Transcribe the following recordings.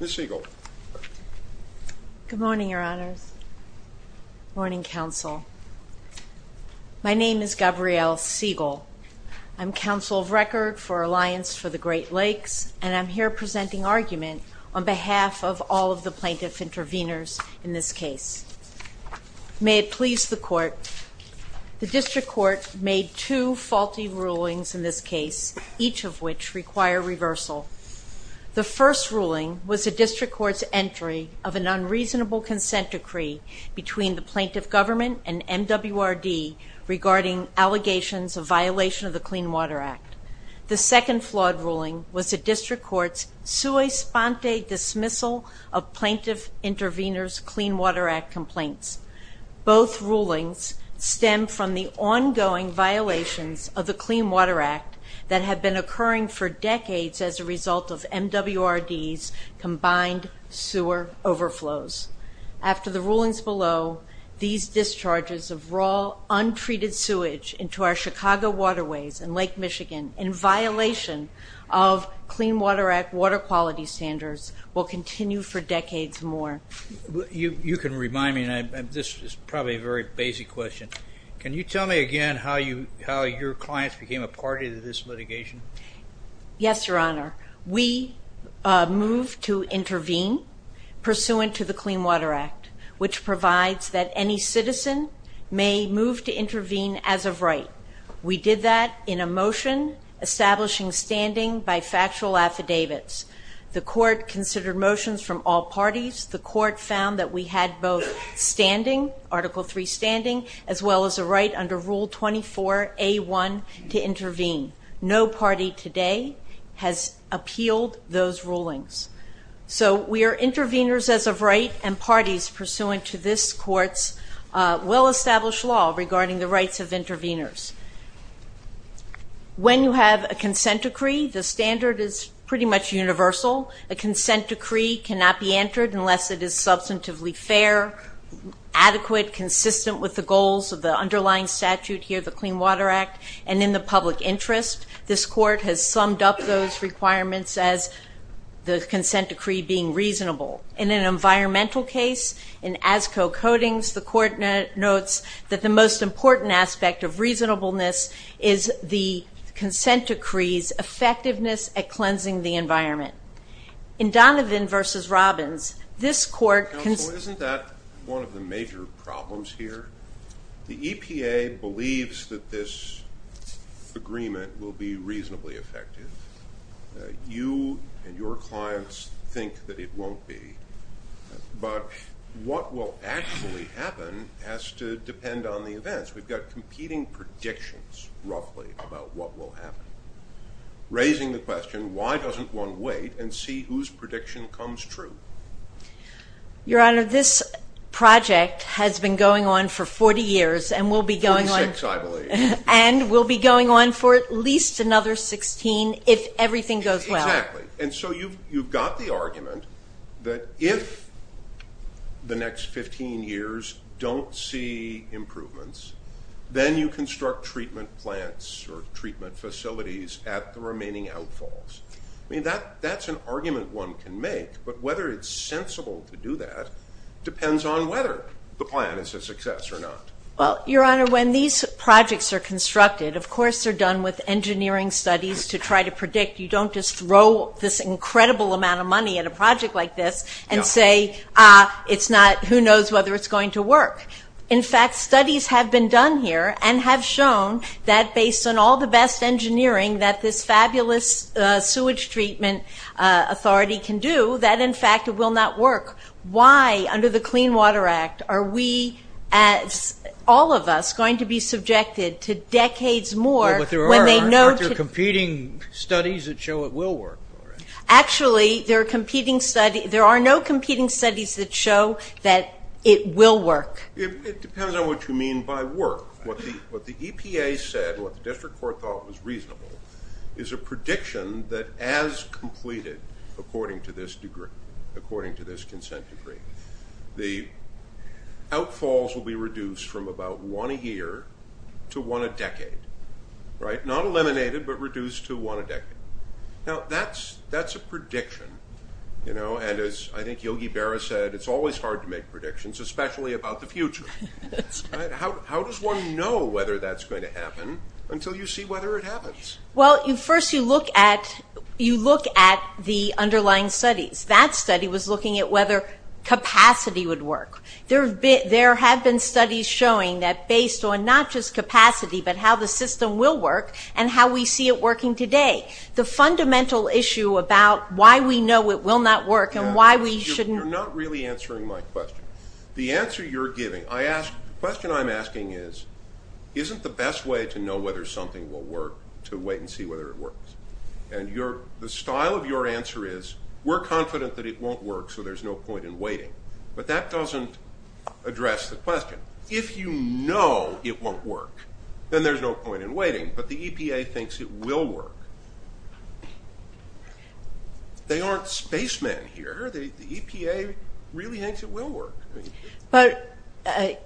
Miss Siegel. Good morning, your honors. Morning, counsel. My name is Gabrielle Siegel. I'm counsel of record for Alliance for the Great Lakes and I'm here presenting argument on behalf of all of the plaintiff intervenors in this case. May it please the court. The district court made two faulty rulings in this ruling was the district court's entry of an unreasonable consent decree between the plaintiff government and MWRD regarding allegations of violation of the Clean Water Act. The second flawed ruling was the district court's sui sponte dismissal of plaintiff intervenors Clean Water Act complaints. Both rulings stem from the ongoing violations of the Clean Water Act that have been occurring for decades as a result of MWRD's combined sewer overflows. After the rulings below, these discharges of raw, untreated sewage into our Chicago waterways and Lake Michigan in violation of Clean Water Act water quality standards will continue for decades more. You can remind me, and this is probably a very basic question, can you tell me again how you how your clients became a party to this litigation? Yes, Your Honor. We moved to intervene pursuant to the Clean Water Act which provides that any citizen may move to intervene as of right. We did that in a motion establishing standing by factual affidavits. The court considered motions from all parties. The court found that we had both standing, Article 3 standing, as well as a right under Rule 24A1 to intervene. No party today has appealed those rulings. So we are intervenors as of right and parties pursuant to this court's well-established law regarding the rights of intervenors. When you have a consent decree, the standard is pretty much universal. A consent decree cannot be entered unless it is substantively fair, adequate, consistent with the goals of the underlying statute here, the Clean Water Act, and in the public interest. This court has summed up those requirements as the consent decree being reasonable. In an environmental case, in ASCO Codings, the court notes that the most important aspect of reasonableness is the consent decree's effectiveness at cleansing the environment. In Donovan v. Robbins, this court... Counsel, isn't that one of the major problems here? The EPA believes that this agreement will be reasonably effective. You and your clients think that it won't be, but what will actually happen has to depend on the events. We've got competing predictions, roughly, about what will happen. Raising the question, why doesn't one wait and see whose project has been going on for 40 years and will be going on for at least another 16 if everything goes well. You've got the argument that if the next 15 years don't see improvements, then you construct treatment plants or treatment facilities at the remaining outfalls. That's an argument one can make, but whether it's sensible to do that depends on whether the plan is a success or not. Well, your honor, when these projects are constructed, of course they're done with engineering studies to try to predict. You don't just throw this incredible amount of money at a project like this and say, ah, it's not, who knows whether it's going to work. In fact, studies have been done here and have shown that based on all the best engineering that this fabulous sewage treatment authority can do, that in fact it will not work. Why, under the Clean Water Act, are we, all of us, going to be subjected to decades more when they know... Well, but there are competing studies that show it will work. Actually, there are competing studies, there are no competing studies that show that it will work. It depends on what you mean by work. What the EPA said, what the district court thought was reasonable, is a prediction that as completed according to this consent decree, the outfalls will be reduced from about one a year to one a decade. Not eliminated, but reduced to one a decade. Now, that's a prediction, and as I think Yogi Berra said, it's always hard to make predictions, especially about the future. How does one know whether that's going to happen until you see whether it happens? Well, first you look at the underlying studies. That study was looking at whether capacity would work. There have been studies showing that based on not just capacity, but how the system will work and how we see it working today. The fundamental issue about why we know it will not work and why we shouldn't... The answer you're giving, the question I'm asking is, isn't the best way to know whether something will work to wait and see whether it works? And the style of your answer is, we're confident that it won't work, so there's no point in waiting. But that doesn't address the question. If you know it won't work, then there's no point in waiting, but the EPA thinks it will work. They aren't spacemen here. The EPA really thinks it will work.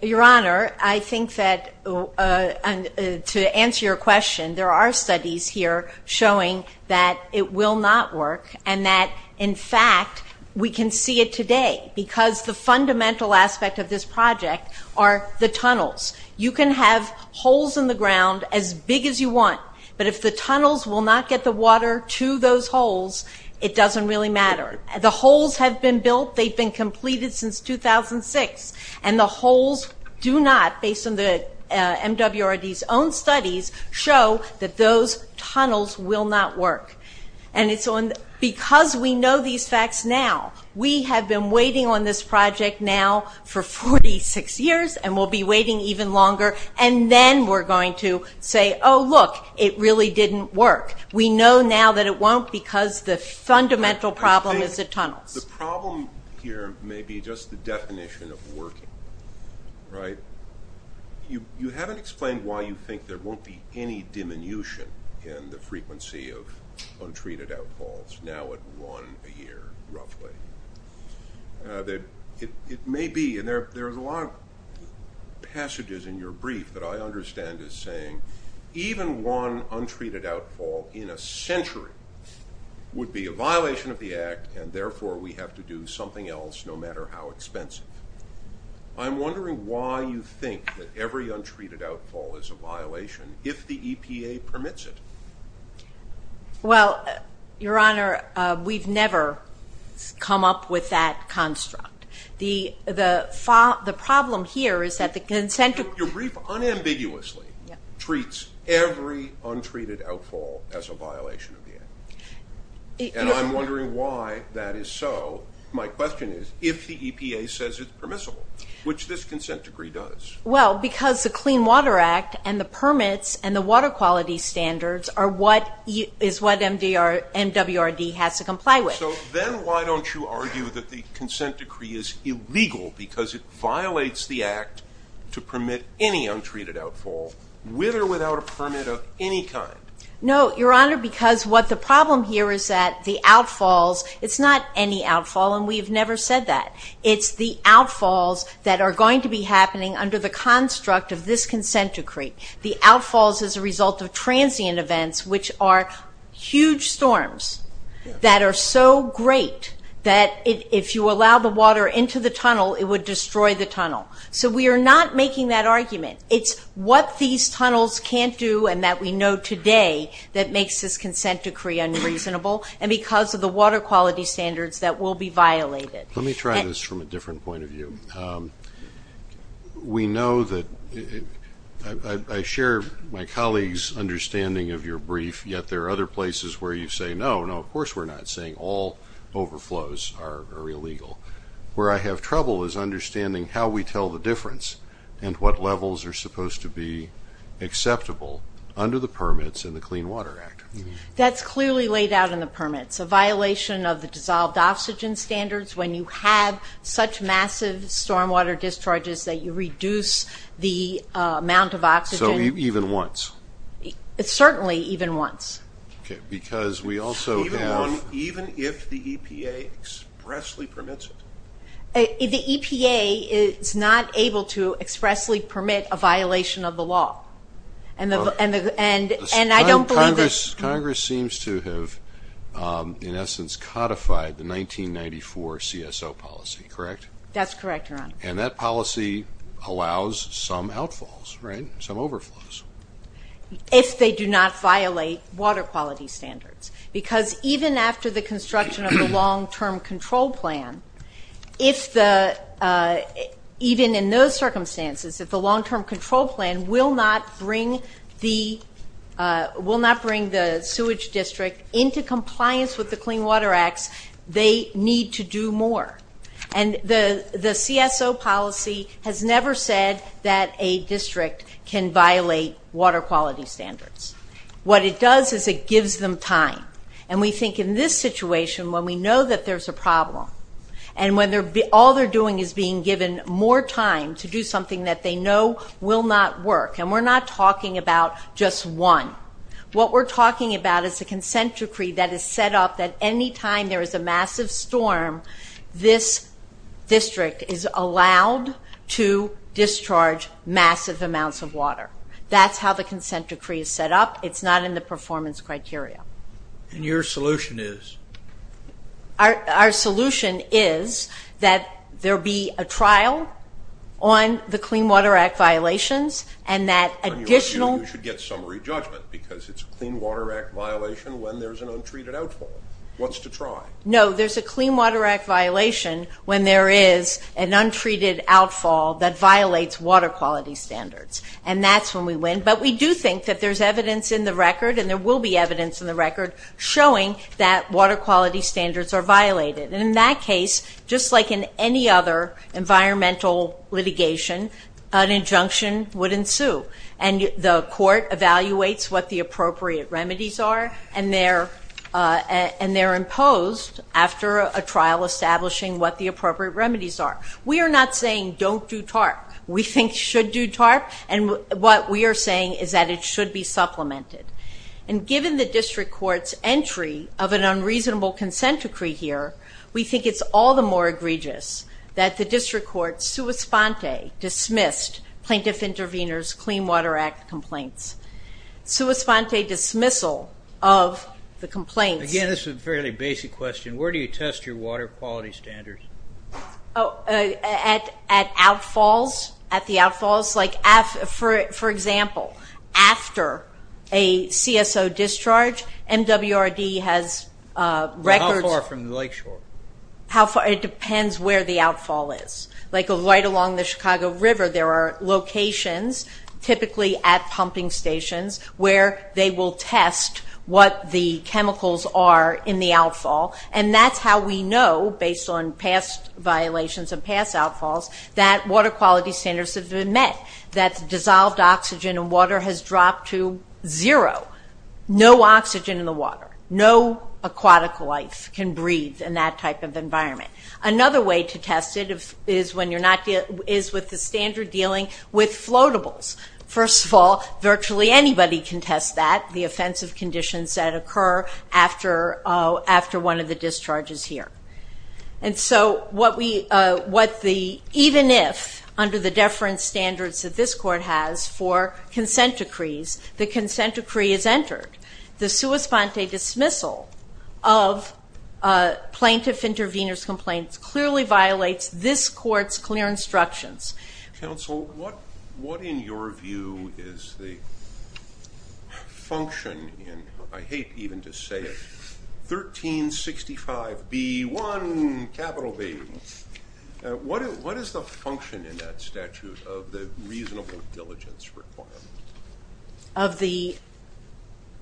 Your Honor, I think that to answer your question, there are studies here showing that it will not work and that, in fact, we can see it today because the fundamental aspect of this project are the tunnels. You can have holes in the ground as big as you want, but if the tunnels will not get the water to those holes, it doesn't really matter. The holes have been built. They've been completed since 2006. And the holes do not, based on the MWRD's own studies, show that those tunnels will not work. Because we know these facts now, we have been waiting on this project now for 46 years, and we'll be waiting even longer, and then we're going to say, oh, look, it really didn't work. We know now that it won't because the fundamental problem is the tunnels. The problem here may be just the definition of working. You haven't explained why you think there won't be any diminution in the frequency of untreated outfalls, now at one a year, roughly. There are a lot of passages in your brief that I understand as saying, even one untreated outfall in a century would be a violation of the Act, and therefore we have to do something else no matter how expensive. I'm wondering why you think that every untreated outfall is a violation if the EPA permits it. Well, Your Honor, we've never come up with that construct. The problem here is that the consent of the – Your brief unambiguously treats every untreated outfall as a violation of the Act. And I'm wondering why that is so. My question is if the EPA says it's permissible, which this consent decree does. Well, because the Clean Water Act and the permits and the water quality standards are what – is what MWRD has to comply with. So then why don't you argue that the consent decree is illegal because it violates the Act to permit any untreated outfall, with or without a permit of any kind? No, Your Honor, because what the problem here is that the outfalls – it's not any outfall, and we've never said that. It's the outfalls that are going to be happening under the construct of this consent decree. The outfalls as a result of transient events, which are huge storms that are so great that if you allow the water into the tunnel, it would destroy the tunnel. So we are not making that argument. It's what these tunnels can't do and that we know today that makes this consent decree unreasonable, and because of the water quality standards that will be violated. Let me try this from a different point of view. We know that – I share my colleague's understanding of your brief, yet there are other places where you say, no, no, of course we're not saying all overflows are illegal. Where I have trouble is understanding how we tell the difference and what levels are supposed to be acceptable under the permits in the Clean Water Act. That's clearly laid out in the permits. A violation of the dissolved oxygen standards when you have such massive stormwater discharges that you reduce the amount of oxygen. So even once? Certainly even once. Okay, because we also have – Even if the EPA expressly permits it. The EPA is not able to expressly permit a violation of the law, and I don't believe that – Congress seems to have, in essence, codified the 1994 CSO policy, correct? That's correct, Your Honor. And that policy allows some outfalls, right? Some overflows. If they do not violate water quality standards. Because even after the construction of the long-term control plan, if the – even in those circumstances, if the long-term control plan will not bring the sewage district into compliance with the Clean Water Act, they need to do more. And the CSO policy has never said that a district can violate water quality standards. What it does is it gives them time. And we think in this situation, when we know that there's a problem, and when all they're doing is being given more time to do something that they know will not work, and we're not talking about just one. What we're talking about is a consent decree that is set up that any time there is a massive storm, this district is allowed to discharge massive amounts of water. That's how the consent decree is set up. It's not in the performance criteria. And your solution is? Our solution is that there be a trial on the Clean Water Act violations, and that additional – Because it's a Clean Water Act violation when there's an untreated outfall. What's to try? No, there's a Clean Water Act violation when there is an untreated outfall that violates water quality standards. And that's when we win. But we do think that there's evidence in the record, and there will be evidence in the record, showing that water quality standards are violated. And in that case, just like in any other environmental litigation, an injunction would ensue. And the court evaluates what the appropriate remedies are, and they're imposed after a trial establishing what the appropriate remedies are. We are not saying don't do TARP. We think you should do TARP, and what we are saying is that it should be supplemented. And given the district court's entry of an unreasonable consent decree here, we think it's all the more egregious that the district court sui sponte dismissed Plaintiff Intervenors Clean Water Act complaints. Sui sponte dismissal of the complaints. Again, this is a fairly basic question. Where do you test your water quality standards? At outfalls, at the outfalls. Like, for example, after a CSO discharge, MWRD has records. How far from the lakeshore? It depends where the outfall is. Like, right along the Chicago River, there are locations, typically at pumping stations, where they will test what the chemicals are in the outfall. And that's how we know, based on past violations and past outfalls, that water quality standards have been met. That dissolved oxygen in water has dropped to zero. No oxygen in the water. No aquatic life can breathe in that type of environment. Another way to test it is with the standard dealing with floatables. First of all, virtually anybody can test that, the offensive conditions that occur after one of the discharges here. And so, even if, under the deference standards that this court has for consent decrees, the consent decree is entered, the sui sponte dismissal of plaintiff intervener's complaints clearly violates this court's clear instructions. Counsel, what, in your view, is the function in, I hate even to say it, 1365B1, capital B, what is the function in that statute of the reasonable diligence requirement? Of the?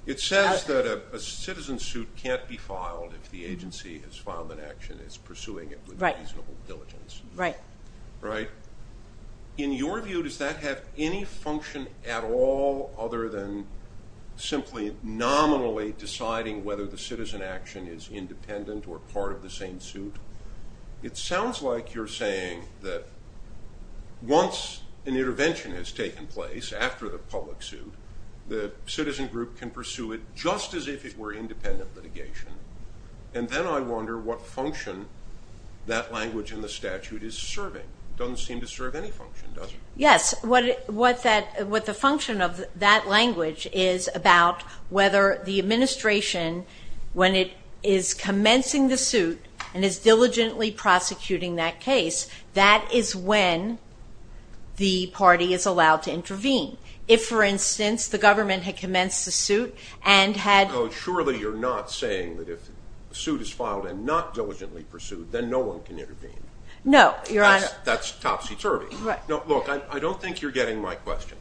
It says that a citizen suit can't be filed if the agency has filed an action that's pursuing it with reasonable diligence. Right. Right. In your view, does that have any function at all other than simply nominally deciding whether the citizen action is independent or part of the same suit? It sounds like you're saying that once an intervention has taken place after the public suit, the citizen group can pursue it just as if it were independent litigation. And then I wonder what function that language in the statute is serving. It doesn't seem to serve any function, does it? Yes. What the function of that language is about whether the administration, when it is commencing the suit and is diligently prosecuting that case, that is when the party is allowed to intervene. If, for instance, the government had commenced the suit and had- So surely you're not saying that if a suit is filed and not diligently pursued, then no one can intervene. No, Your Honor. That's topsy-turvy. Right. Look, I don't think you're getting my question.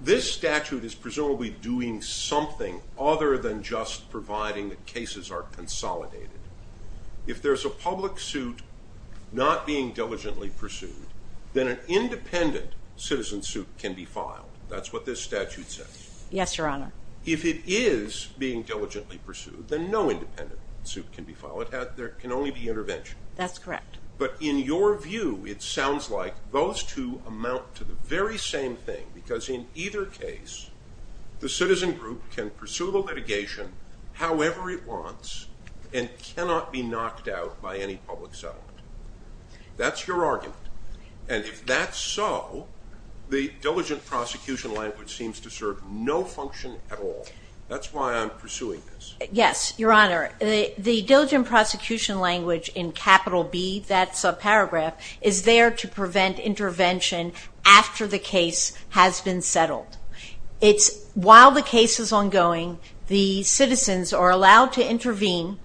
This statute is presumably doing something other than just providing that cases are consolidated. If there's a public suit not being diligently pursued, then an independent citizen suit can be filed. That's what this statute says. Yes, Your Honor. If it is being diligently pursued, then no independent suit can be filed. There can only be intervention. That's correct. But in your view, it sounds like those two amount to the very same thing, because in either case, the citizen group can pursue the litigation however it wants and cannot be knocked out by any public settlement. That's your argument. And if that's so, the diligent prosecution language seems to serve no function at all. That's why I'm pursuing this. Yes, Your Honor. The diligent prosecution language in capital B, that subparagraph, is there to prevent intervention after the case has been settled. It's while the case is ongoing, the citizens are allowed to intervene,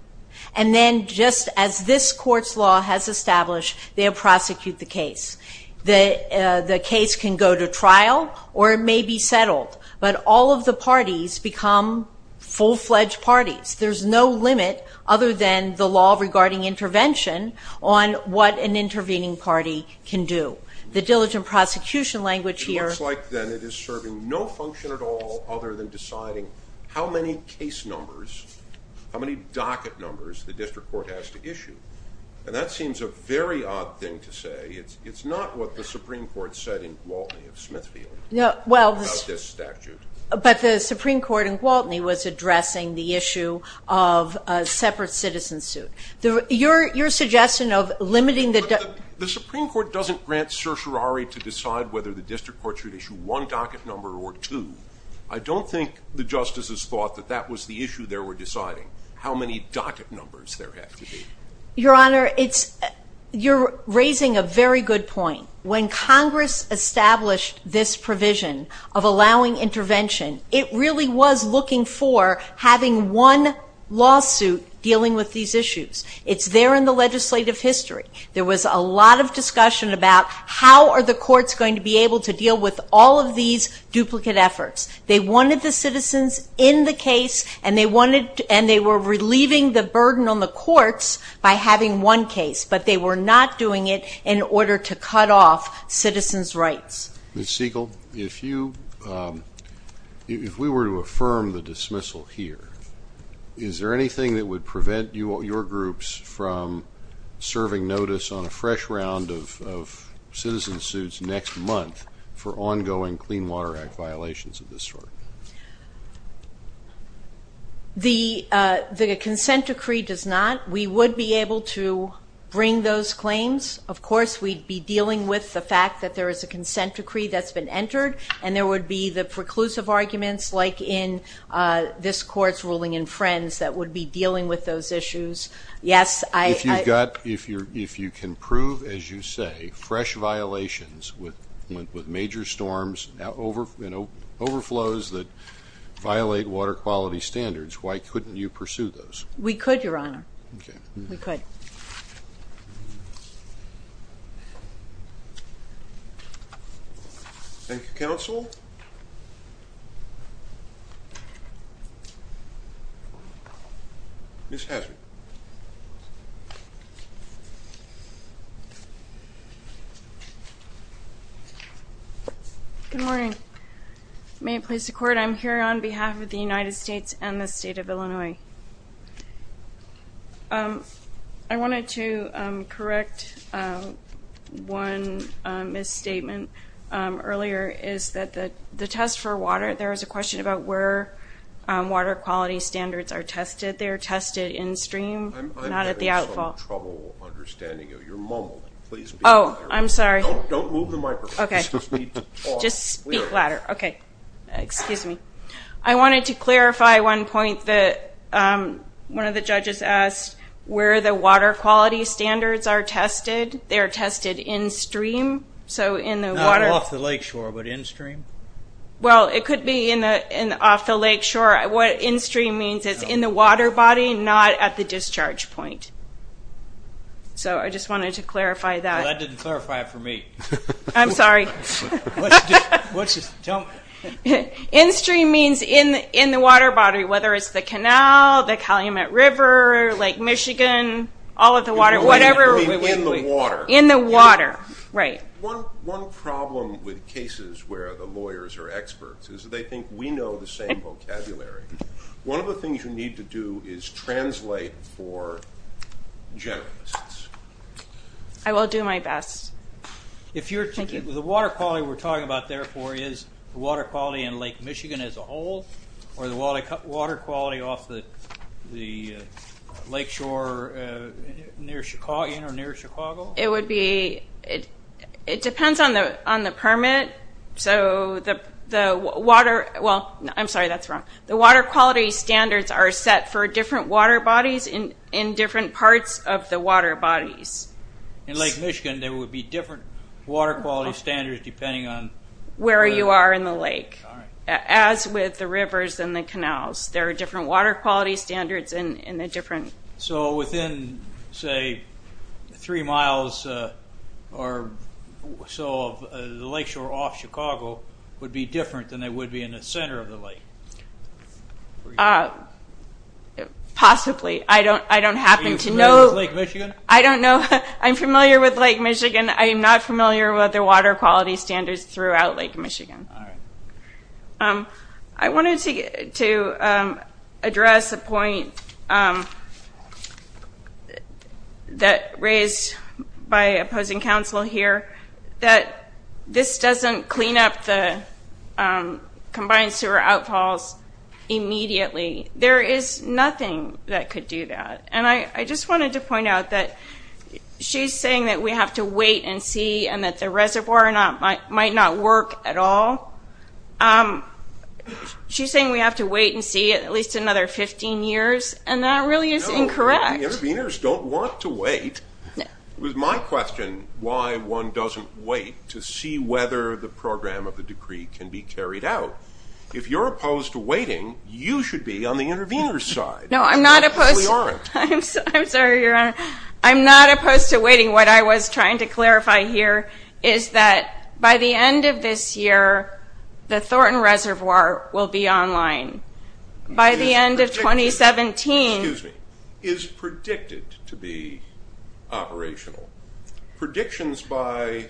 and then just as this court's law has established, they'll prosecute the case. The case can go to trial or it may be settled, but all of the parties become full-fledged parties. There's no limit other than the law regarding intervention on what an intervening party can do. The diligent prosecution language here It looks like, then, it is serving no function at all other than deciding how many case numbers, how many docket numbers the district court has to issue. And that seems a very odd thing to say. It's not what the Supreme Court said in Gwaltney of Smithfield about this statute. But the Supreme Court in Gwaltney was addressing the issue of a separate citizen suit. Your suggestion of limiting the The Supreme Court doesn't grant certiorari to decide whether the district court should issue one docket number or two. I don't think the justices thought that that was the issue they were deciding, how many docket numbers there have to be. Your Honor, you're raising a very good point. When Congress established this provision of allowing intervention, it really was looking for having one lawsuit dealing with these issues. It's there in the legislative history. There was a lot of discussion about how are the courts going to be able to deal with all of these duplicate efforts. They wanted the citizens in the case, and they were relieving the burden on the courts by having one case. But they were not doing it in order to cut off citizens' rights. Ms. Siegel, if we were to affirm the dismissal here, is there anything that would prevent your groups from serving notice on a fresh round of citizen suits next month for ongoing Clean Water Act violations of this sort? The consent decree does not. We would be able to bring those claims. Of course, we'd be dealing with the fact that there is a consent decree that's been entered, and there would be the preclusive arguments, like in this court's ruling in Friends, that would be dealing with those issues. If you can prove, as you say, fresh violations with major storms and overflows that violate water quality standards, why couldn't you pursue those? We could, Your Honor. Okay. We could. Thank you. Thank you, counsel. Ms. Haslund. Good morning. May it please the Court, I'm here on behalf of the United States and the State of Illinois. I wanted to correct one misstatement earlier, is that the test for water, there was a question about where water quality standards are tested. They are tested in stream, not at the outfall. I'm having some trouble understanding you. You're mumbled. Please be louder. Oh, I'm sorry. Don't move the microphone. Okay. Just speak louder. Okay. Excuse me. I wanted to clarify one point that one of the judges asked, where the water quality standards are tested. They are tested in stream, so in the water. Off the lake shore, but in stream? Well, it could be off the lake shore. What in stream means is in the water body, not at the discharge point. So I just wanted to clarify that. That didn't clarify it for me. I'm sorry. In stream means in the water body, whether it's the canal, the Calumet River, Lake Michigan, all of the water, whatever. In the water. In the water, right. One problem with cases where the lawyers are experts is they think we know the same vocabulary. One of the things you need to do is translate for generalists. I will do my best. Thank you. The water quality we're talking about, therefore, is the water quality in Lake Michigan as a whole, or the water quality off the lake shore near Chicago? It depends on the permit. So the water, well, I'm sorry, that's wrong. The water quality standards are set for different water bodies in different parts of the water bodies. In Lake Michigan, there would be different water quality standards depending on where you are in the lake. As with the rivers and the canals, there are different water quality standards in the different. So within, say, three miles or so of the lake shore off Chicago would be different than they would be in the center of the lake? Possibly. I don't happen to know. Lake Michigan? I don't know. I'm familiar with Lake Michigan. I am not familiar with the water quality standards throughout Lake Michigan. All right. I wanted to address a point that raised by opposing council here, that this doesn't clean up the combined sewer outfalls immediately. There is nothing that could do that. And I just wanted to point out that she's saying that we have to wait and see and that the reservoir might not work at all. She's saying we have to wait and see at least another 15 years, and that really is incorrect. No, the interveners don't want to wait. It was my question why one doesn't wait to see whether the program of the decree can be carried out. If you're opposed to waiting, you should be on the intervener's side. No, I'm not opposed. We aren't. I'm sorry, Your Honor. I'm not opposed to waiting. What I was trying to clarify here is that by the end of this year, the Thornton Reservoir will be online. By the end of 2017. Excuse me. Is predicted to be operational. Predictions by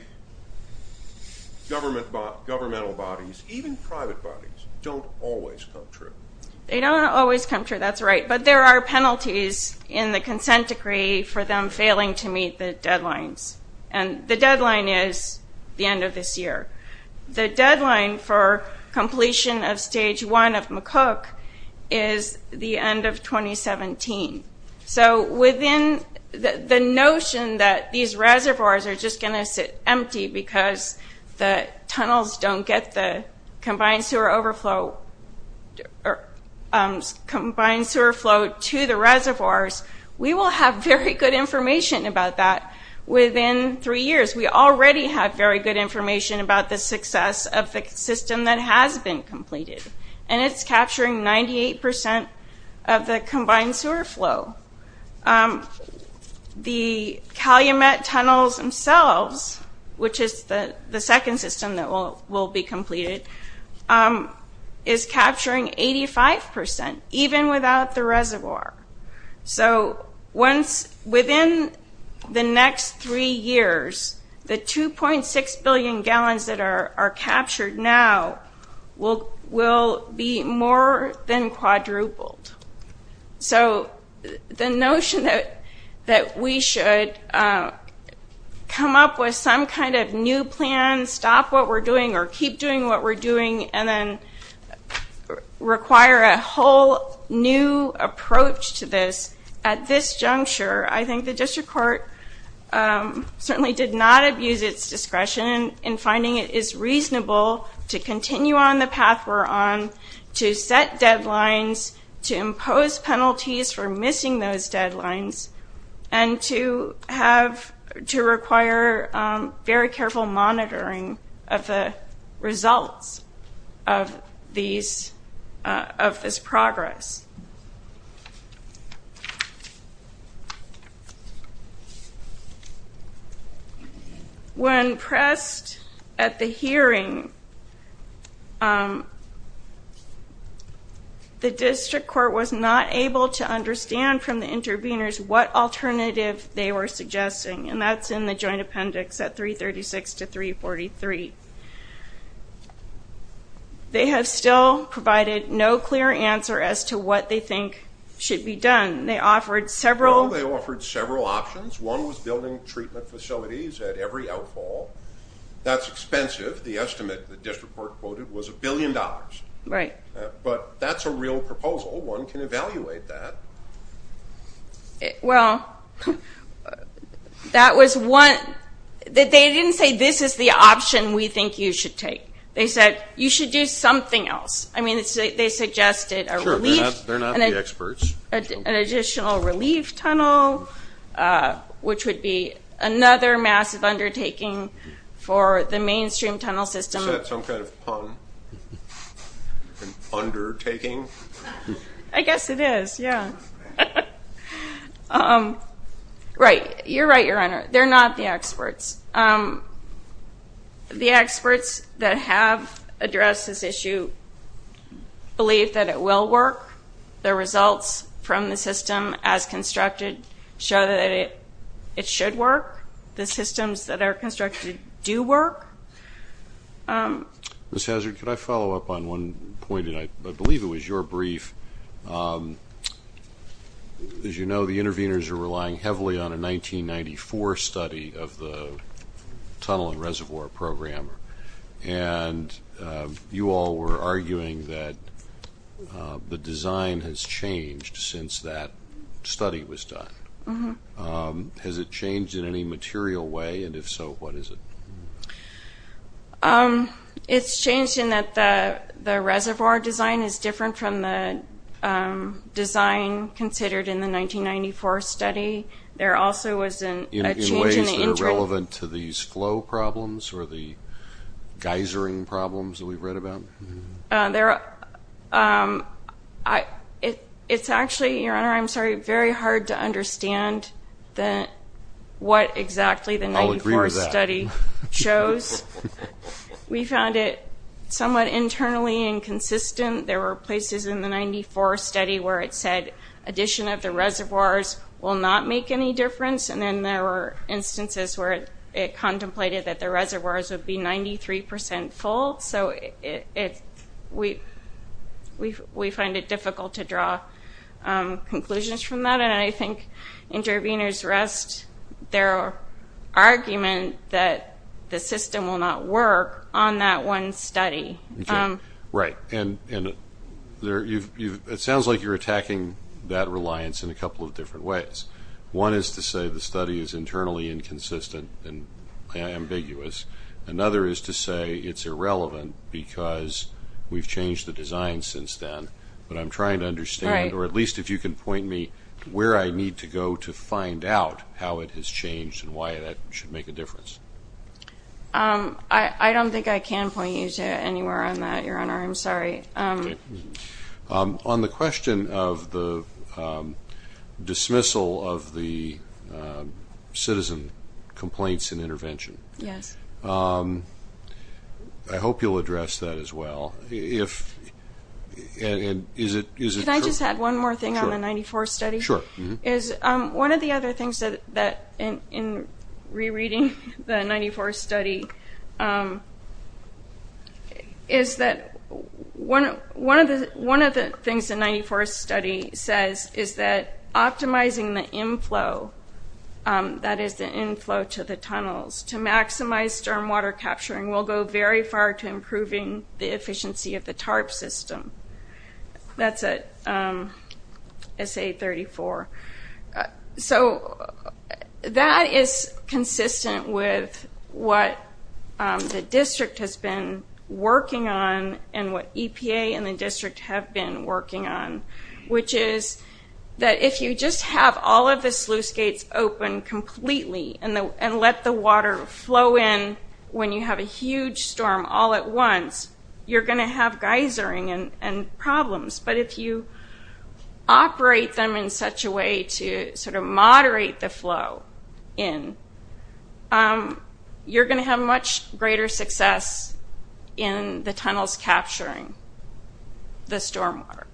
governmental bodies, even private bodies, don't always come true. They don't always come true. That's right. But there are penalties in the consent decree for them failing to meet the deadlines, and the deadline is the end of this year. The deadline for completion of Stage 1 of McCook is the end of 2017. So within the notion that these reservoirs are just going to sit empty because the tunnels don't get the combined sewer overflow to the reservoirs, we will have very good information about that within three years. We already have very good information about the success of the system that has been completed, and it's capturing 98% of the combined sewer flow. The Calumet Tunnels themselves, which is the second system that will be completed, is capturing 85%, even without the reservoir. So within the next three years, the 2.6 billion gallons that are captured now will be more than quadrupled. So the notion that we should come up with some kind of new plan, stop what we're doing or keep doing what we're doing, and then require a whole new approach to this at this juncture, I think the district court certainly did not abuse its discretion in finding it is reasonable to continue on the path we're on, to set deadlines, to impose penalties for missing those deadlines, and to require very careful monitoring of the results of this progress. When pressed at the hearing, the district court was not able to understand from the interveners what alternative they were suggesting, and that's in the joint appendix at 336 to 343. They have still provided no clear answer as to what they think should be done. They offered several options. One was building treatment facilities at every outfall. That's expensive. The estimate, the district court quoted, was $1 billion. But that's a real proposal. One can evaluate that. Well, that was one. They didn't say this is the option we think you should take. They said you should do something else. I mean, they suggested a relief. Sure, they're not the experts. An additional relief tunnel, which would be another massive undertaking for the mainstream tunnel system. Is that some kind of pun? Undertaking? I guess it is, yeah. Right. You're right, Your Honor. They're not the experts. The experts that have addressed this issue believe that it will work. The results from the system as constructed show that it should work. The systems that are constructed do work. Ms. Hazard, could I follow up on one point? I believe it was your brief. As you know, the interveners are relying heavily on a 1994 study of the tunnel and reservoir program, and you all were arguing that the design has changed since that study was done. Has it changed in any material way? And if so, what is it? It's changed in that the reservoir design is different from the design considered in the 1994 study. There also was a change in the interim. In ways that are relevant to these flow problems or the geysering problems that we've read about? It's actually, Your Honor, I'm sorry, very hard to understand what exactly the 94 study shows. We found it somewhat internally inconsistent. There were places in the 94 study where it said addition of the reservoirs will not make any difference, and then there were instances where it contemplated that the reservoirs would be 93% full. So we find it difficult to draw conclusions from that, and I think interveners rest their argument that the system will not work on that one study. Right. And it sounds like you're attacking that reliance in a couple of different ways. One is to say the study is internally inconsistent and ambiguous. Another is to say it's irrelevant because we've changed the design since then. But I'm trying to understand, or at least if you can point me, where I need to go to find out how it has changed and why that should make a difference. I don't think I can point you to anywhere on that, Your Honor. I'm sorry. On the question of the dismissal of the citizen complaints and intervention, I hope you'll address that as well. Can I just add one more thing on the 94 study? Sure. One of the other things in rereading the 94 study is that one of the things the 94 study says is that optimizing the inflow, that is the inflow to the tunnels, to maximize stormwater capturing will go very far to improving the efficiency of the TARP system. That's at SA34. So that is consistent with what the district has been working on and what EPA and the district have been working on, which is that if you just have all of the sluice gates open completely and let the water flow in when you have a huge storm all at once, you're going to have geysering and problems. But if you operate them in such a way to sort of moderate the flow in, you're going to have much greater success in the tunnels capturing the stormwater.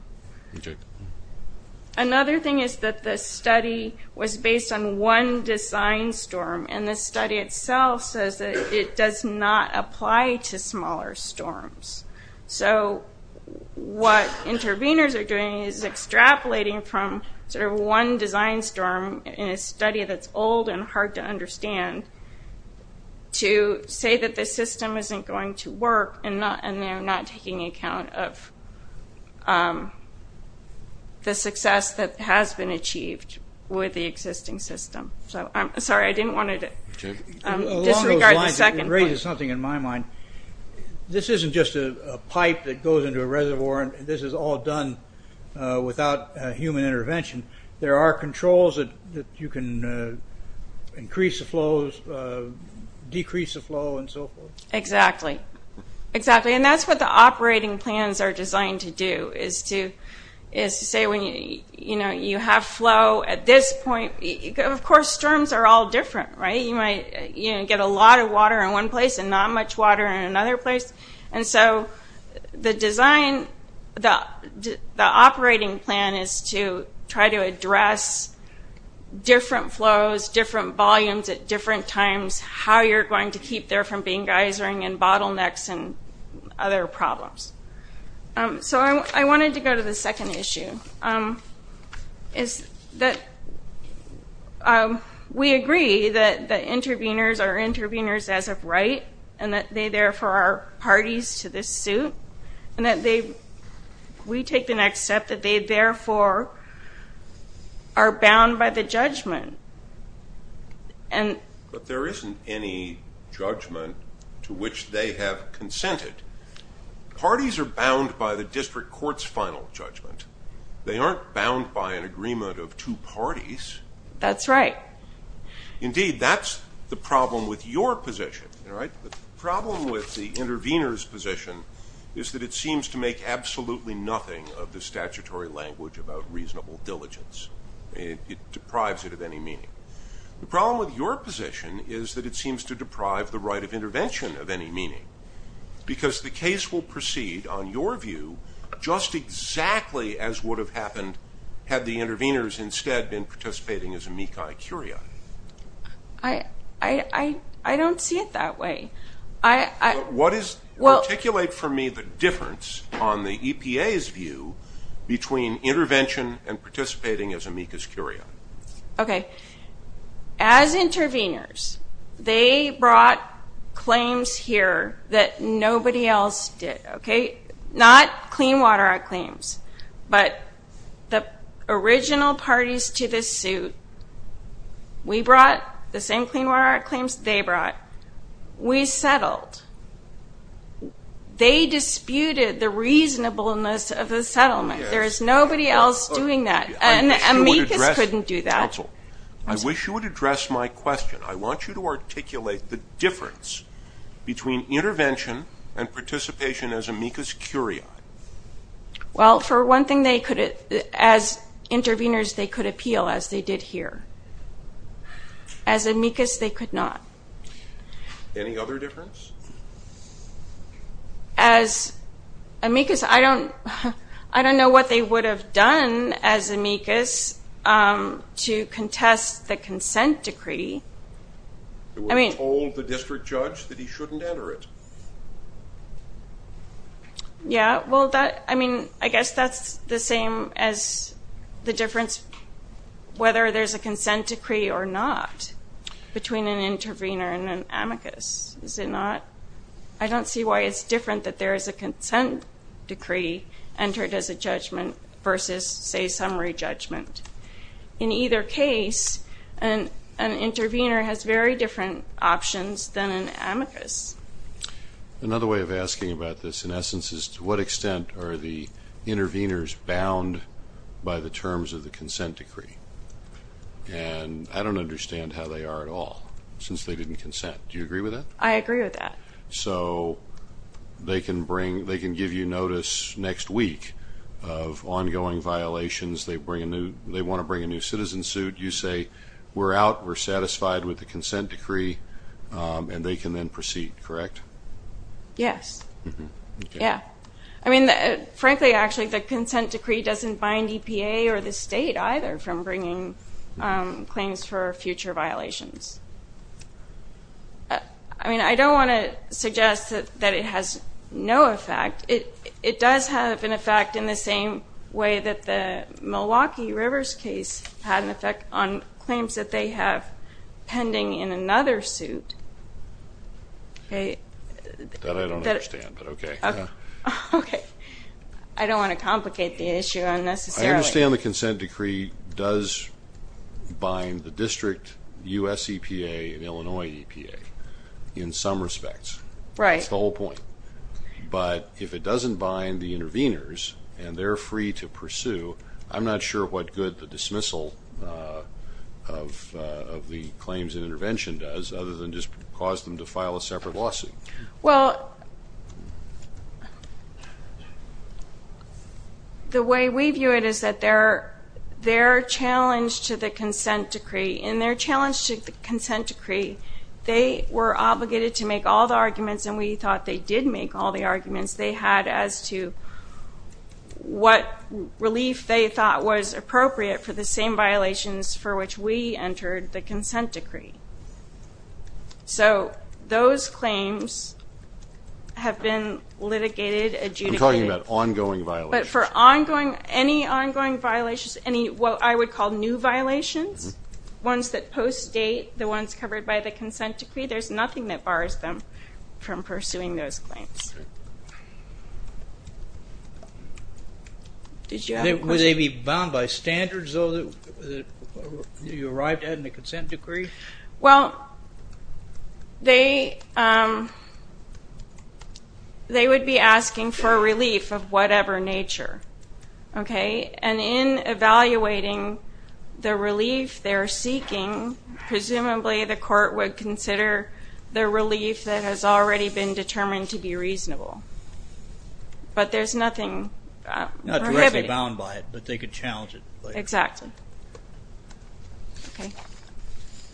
Another thing is that the study was based on one design storm, and this study itself says that it does not apply to smaller storms. So what interveners are doing is extrapolating from sort of one design storm in a study that's old and hard to understand to say that the system isn't going to work and they're not taking account of the success that has been achieved with the existing system. Sorry, I didn't want to disregard the second point. It raises something in my mind. This isn't just a pipe that goes into a reservoir and this is all done without human intervention. There are controls that you can increase the flows, decrease the flow, and so forth. Exactly. And that's what the operating plans are designed to do, is to say when you have flow at this point. Of course, storms are all different, right? You might get a lot of water in one place and not much water in another place. And so the design, the operating plan is to try to address different flows, different volumes at different times, how you're going to keep there from being geysering and bottlenecks and other problems. So I wanted to go to the second issue, is that we agree that interveners are interveners as of right and that they, therefore, are parties to this suit and that we take the next step that they, therefore, are bound by the judgment. But there isn't any judgment to which they have consented. Parties are bound by the district court's final judgment. They aren't bound by an agreement of two parties. That's right. Indeed, that's the problem with your position. The problem with the intervener's position is that it seems to make absolutely nothing of the statutory language about reasonable diligence. It deprives it of any meaning. The problem with your position is that it seems to deprive the right of Because the case will proceed, on your view, just exactly as would have happened had the interveners instead been participating as amicus curiae. I don't see it that way. Articulate for me the difference on the EPA's view between intervention and participating as amicus curiae. Okay. As interveners, they brought claims here that nobody else did, okay? Not Clean Water Act claims, but the original parties to this suit, we brought the same Clean Water Act claims they brought. We settled. They disputed the reasonableness of the settlement. There is nobody else doing that. Amicus couldn't do that. Counsel, I wish you would address my question. I want you to articulate the difference between intervention and participation as amicus curiae. Well, for one thing, as interveners, they could appeal, as they did here. As amicus, they could not. Any other difference? As amicus, I don't know what they would have done as amicus to contest the consent decree. They would have told the district judge that he shouldn't enter it. Yeah, well, I mean, I guess that's the same as the difference whether there's a consent decree or not between an intervener and an amicus. I don't see why it's different that there is a consent decree entered as a judgment versus, say, summary judgment. In either case, an intervener has very different options than an amicus. Another way of asking about this, in essence, is to what extent are the interveners bound by the terms of the consent decree? And I don't understand how they are at all since they didn't consent. Do you agree with that? I agree with that. So they can give you notice next week of ongoing violations. They want to bring a new citizen suit. You say, we're out, we're satisfied with the consent decree, and they can then proceed, correct? Yes. Okay. Yeah. I mean, frankly, actually, the consent decree doesn't bind EPA or the state either from bringing claims for future violations. I mean, I don't want to suggest that it has no effect. It does have an effect in the same way that the Milwaukee Rivers case had an effect on claims that they have pending in another suit. That I don't understand, but okay. Okay. I don't want to complicate the issue unnecessarily. I understand the consent decree does bind the district, U.S. EPA, and Illinois EPA in some respects. Right. That's the whole point. But if it doesn't bind the interveners and they're free to pursue, I'm not sure what good the dismissal of the claims and intervention does other than just cause them to file a separate lawsuit. Well, the way we view it is that their challenge to the consent decree and their challenge to the consent decree, they were obligated to make all the arguments and we thought they did make all the arguments they had as to what relief they thought was appropriate for the same violations for which we entered the consent decree. So those claims have been litigated, adjudicated. I'm talking about ongoing violations. But for any ongoing violations, any what I would call new violations, ones that post-date, the ones covered by the consent decree, there's nothing that bars them from pursuing those claims. Okay. Did you have a question? Would they be bound by standards that you arrived at in the consent decree? Well, they would be asking for relief of whatever nature. And in evaluating the relief they're seeking, presumably the court would consider the relief that has already been determined to be reasonable. But there's nothing prohibitive. They wouldn't be bound by it, but they could challenge it. Exactly. Okay.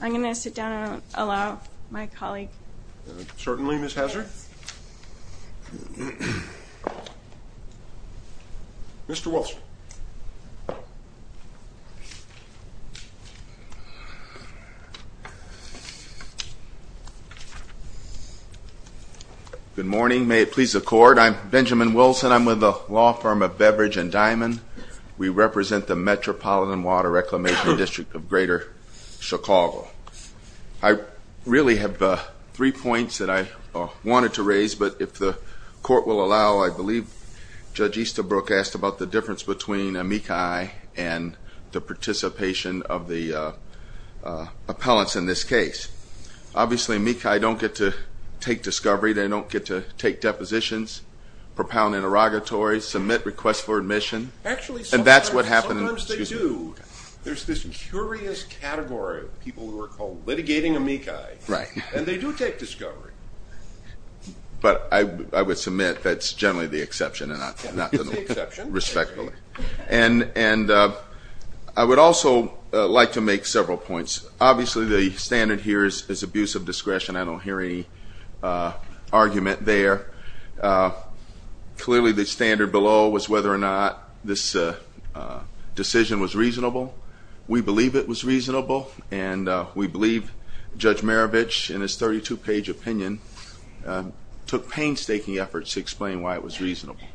I'm going to sit down and allow my colleague. Certainly, Ms. Hazard. Mr. Wilson. Good morning. May it please the Court. I'm Benjamin Wilson. I'm with the law firm of Beverage and Diamond. We represent the Metropolitan Water Reclamation District of Greater Chicago. I really have three points that I wanted to raise. But if the Court will allow, I believe Judge Easterbrook asked about the difference between a MECI and the participation of the appellants in this case. Obviously, MECI don't get to take discovery. They don't get to take depositions, propound interrogatory, submit requests for admission. Actually, sometimes they do. And that's what happens. There's this curious category of people who are called litigating a MECI. Right. And they do take discovery. But I would submit that's generally the exception and not the norm. That's the exception. Respectfully. And I would also like to make several points. Obviously, the standard here is abuse of discretion. I don't hear any argument there. Clearly, the standard below was whether or not this decision was reasonable. We believe it was reasonable. And we believe Judge Marovitch, in his 32-page opinion, took painstaking efforts to explain why it was reasonable.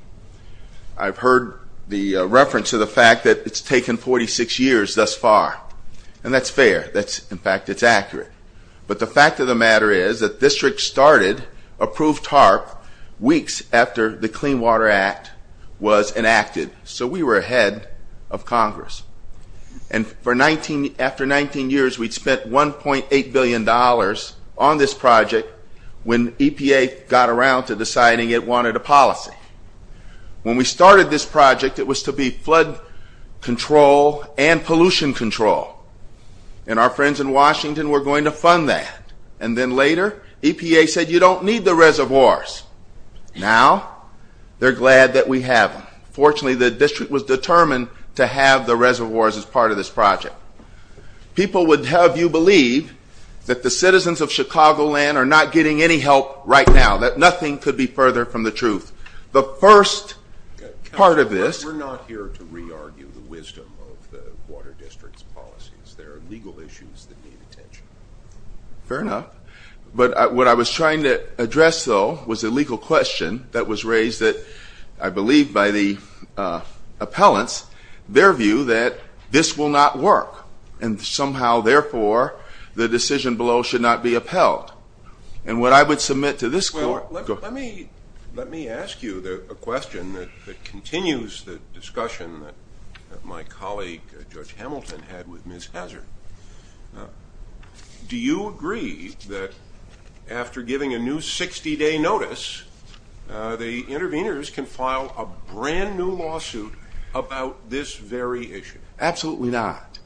I've heard the reference to the fact that it's taken 46 years thus far. And that's fair. In fact, it's accurate. But the fact of the matter is that districts started approved TARP weeks after the Clean Water Act was enacted. So we were ahead of Congress. And after 19 years, we'd spent $1.8 billion on this project when EPA got around to deciding it wanted a policy. When we started this project, it was to be flood control and pollution control. And our friends in Washington were going to fund that. And then later, EPA said, you don't need the reservoirs. Now, they're glad that we have them. Fortunately, the district was determined to have the reservoirs as part of this project. People would have you believe that the citizens of Chicagoland are not getting any help right now, that nothing could be further from the truth. The first part of this. We're not here to re-argue the wisdom of the water district's policies. There are legal issues that need attention. Fair enough. But what I was trying to address, though, was a legal question that was raised that I believe by the appellants, their view that this will not work. And somehow, therefore, the decision below should not be upheld. And what I would submit to this court. Well, let me ask you a question that continues the discussion that my colleague, Judge Hamilton, had with Ms. Hazard. Do you agree that after giving a new 60-day notice, the interveners can file a brand-new lawsuit about this very issue? Absolutely not.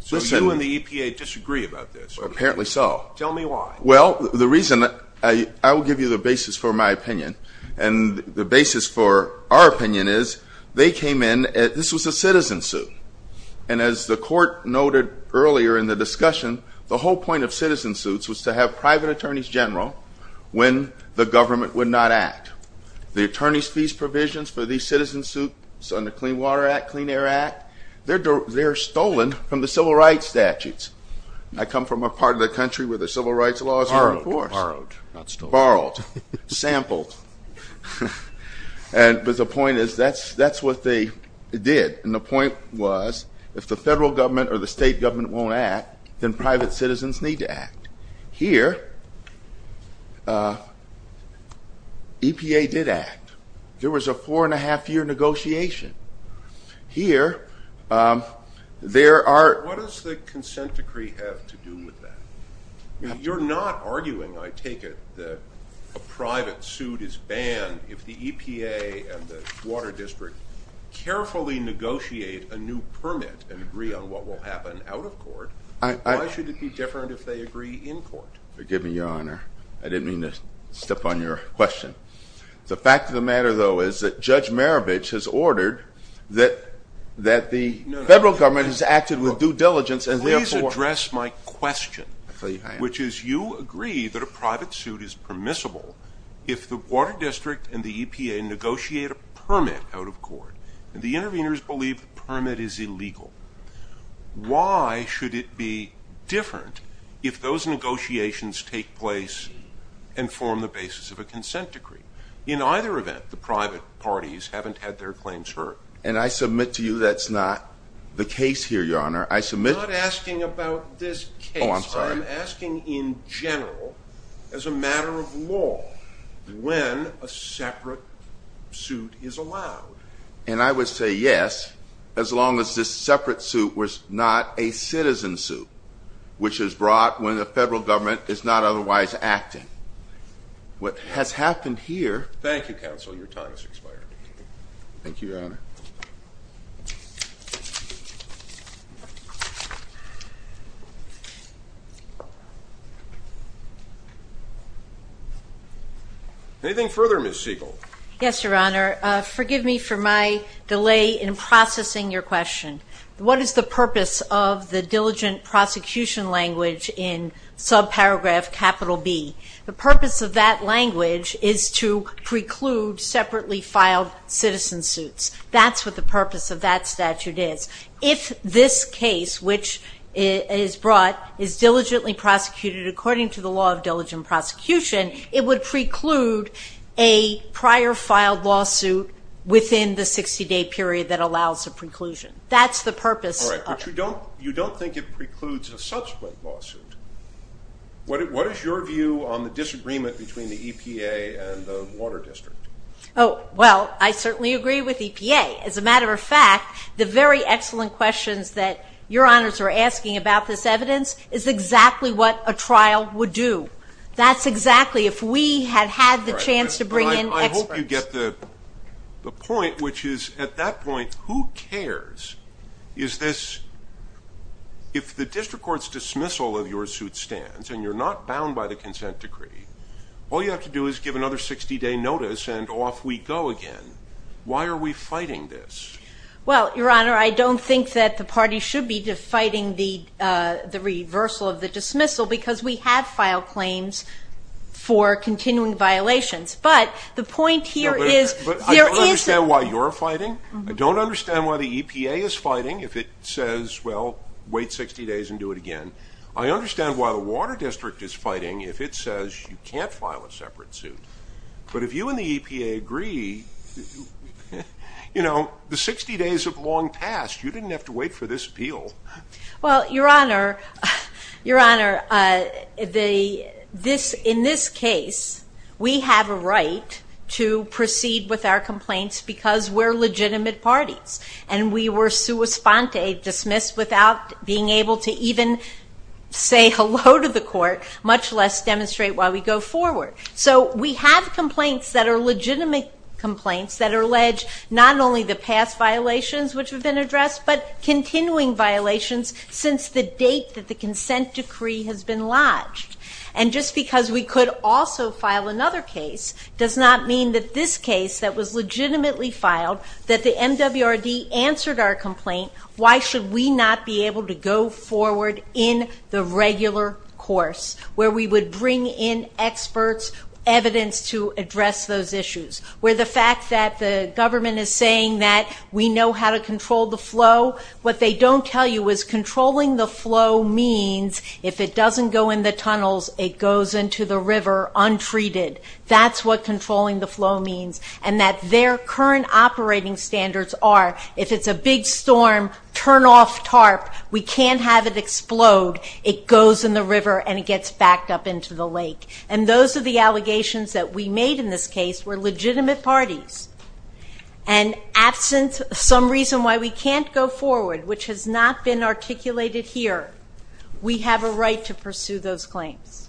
So you and the EPA disagree about this? Apparently so. Tell me why. Well, the reason I will give you the basis for my opinion and the basis for our opinion is they came in. This was a citizen suit. And as the court noted earlier in the discussion, the whole point of citizen suits was to have private attorneys general when the government would not act. The attorney's fees provisions for these citizen suits under Clean Water Act, Clean Air Act, they're stolen from the civil rights statutes. I come from a part of the country where the civil rights laws are, of course. Borrowed. Not stolen. Borrowed. Sampled. But the point is that's what they did. And the point was if the federal government or the state government won't act, then private citizens need to act. Here, EPA did act. There was a four-and-a-half-year negotiation. Here, there are. What does the consent decree have to do with that? You're not arguing, I take it, that a private suit is banned if the EPA and the water district carefully negotiate a new permit and agree on what will happen out of court. Why should it be different if they agree in court? Forgive me, Your Honor. I didn't mean to step on your question. The fact of the matter, though, is that Judge Marovitch has ordered that the federal government has acted with due diligence and, therefore... Please address my question. I'll tell you how I am. Which is you agree that a private suit is permissible if the water district and the EPA negotiate a permit out of court, and the interveners believe the permit is illegal. Why should it be different if those negotiations take place and form the basis of a consent decree? In either event, the private parties haven't had their claims heard. And I submit to you that's not the case here, Your Honor. I submit... I'm not asking about this case. Oh, I'm sorry. I'm asking in general, as a matter of law, when a separate suit is allowed. And I would say yes, as long as this separate suit was not a citizen suit, which is brought when the federal government is not otherwise acting. What has happened here... Thank you, counsel. Your time has expired. Thank you, Your Honor. Anything further, Ms. Siegel? Yes, Your Honor. Forgive me for my delay in processing your question. What is the purpose of the diligent prosecution language in subparagraph capital B? The purpose of that language is to preclude separately filed citizen suits. That's what the purpose of that statute is. If this case, which is brought, is diligently prosecuted according to the law of diligent prosecution, it would preclude a prior filed lawsuit within the 60-day period that allows a preclusion. That's the purpose of it. All right. But you don't think it precludes a subsequent lawsuit. What is your view on the disagreement between the EPA and the Water District? Oh, well, I certainly agree with EPA. As a matter of fact, the very excellent questions that Your Honors are asking about this evidence is exactly what a trial would do. That's exactly if we had had the chance to bring in experts. You get the point, which is, at that point, who cares? If the district court's dismissal of your suit stands and you're not bound by the consent decree, all you have to do is give another 60-day notice and off we go again. Why are we fighting this? Well, Your Honor, I don't think that the party should be fighting the reversal of the dismissal because we have filed claims for continuing violations. But the point here is there is a- But I don't understand why you're fighting. I don't understand why the EPA is fighting if it says, well, wait 60 days and do it again. I understand why the Water District is fighting if it says you can't file a separate suit. But if you and the EPA agree, you know, the 60 days have long passed. You didn't have to wait for this appeal. Well, Your Honor, Your Honor, in this case, we have a right to proceed with our complaints because we're legitimate parties. And we were sua sponte, dismissed, without being able to even say hello to the court, much less demonstrate why we go forward. So we have complaints that are legitimate complaints that allege not only the past violations, which have been addressed, but continuing violations since the date that the consent decree has been lodged. And just because we could also file another case does not mean that this case that was legitimately filed, that the MWRD answered our complaint, why should we not be able to go forward in the regular course, where we would bring in experts, evidence to address those issues, where the fact that the government is saying that we know how to control the flow, what they don't tell you is controlling the flow means if it doesn't go in the tunnels, it goes into the river untreated. That's what controlling the flow means. And that their current operating standards are if it's a big storm, turn off tarp. We can't have it explode. And those are the allegations that we made in this case were legitimate parties. And absent some reason why we can't go forward, which has not been articulated here, we have a right to pursue those claims.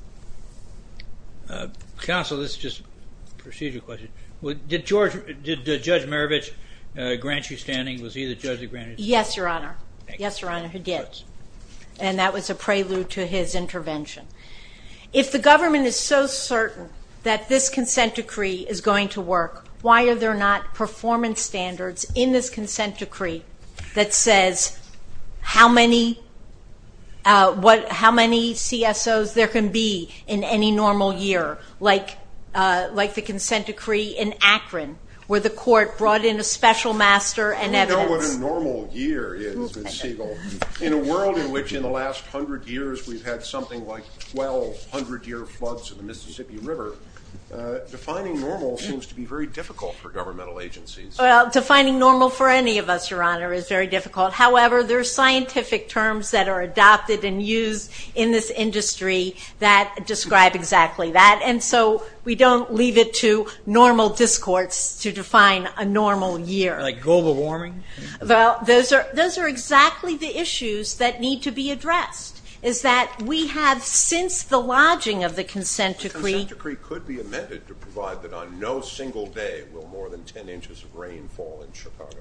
Counsel, this is just a procedural question. Did Judge Marovitch grant you standing? Was he the judge that granted you standing? Yes, Your Honor. Yes, Your Honor, he did. And that was a prelude to his intervention. If the government is so certain that this consent decree is going to work, why are there not performance standards in this consent decree that says how many CSOs there can be in any normal year, like the consent decree in Akron, where the court brought in a special master and evidence. In a world in which in the last hundred years we've had something like 1,200-year floods in the Mississippi River, defining normal seems to be very difficult for governmental agencies. Defining normal for any of us, Your Honor, is very difficult. However, there are scientific terms that are adopted and used in this industry that describe exactly that. And so we don't leave it to normal discourse to define a normal year. Like global warming? Well, those are exactly the issues that need to be addressed, is that we have since the lodging of the consent decree. The consent decree could be amended to provide that on no single day will more than 10 inches of rain fall in Chicago.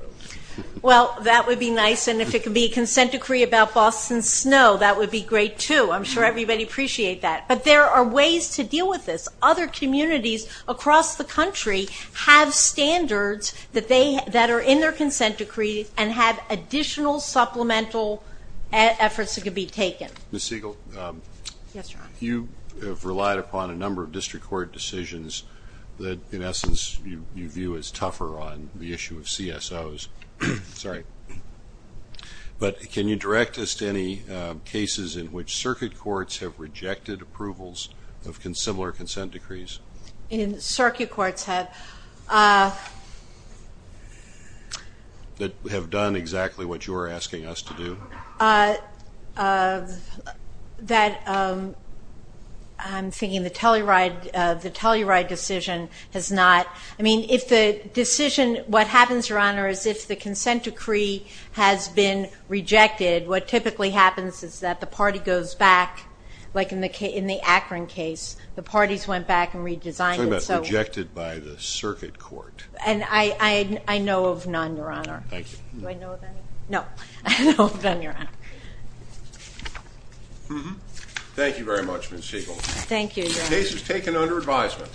Well, that would be nice. And if it could be a consent decree about Boston snow, that would be great, too. I'm sure everybody would appreciate that. But there are ways to deal with this. Other communities across the country have standards that are in their consent decree and have additional supplemental efforts that could be taken. Ms. Siegel? Yes, Your Honor. You have relied upon a number of district court decisions that, in essence, you view as tougher on the issue of CSOs. Sorry. But can you direct us to any cases in which circuit courts have rejected approvals of similar consent decrees? Circuit courts have. That have done exactly what you are asking us to do? I'm thinking the Telluride decision has not. I mean, if the decision, what happens, Your Honor, is if the consent decree has been rejected, what typically happens is that the party goes back, like in the Akron case, the parties went back and redesigned it. I'm talking about rejected by the circuit court. And I know of none, Your Honor. Thank you. Do I know of any? No. I know of none, Your Honor. Thank you very much, Ms. Siegel. Thank you, Your Honor. Case is taken under advisement.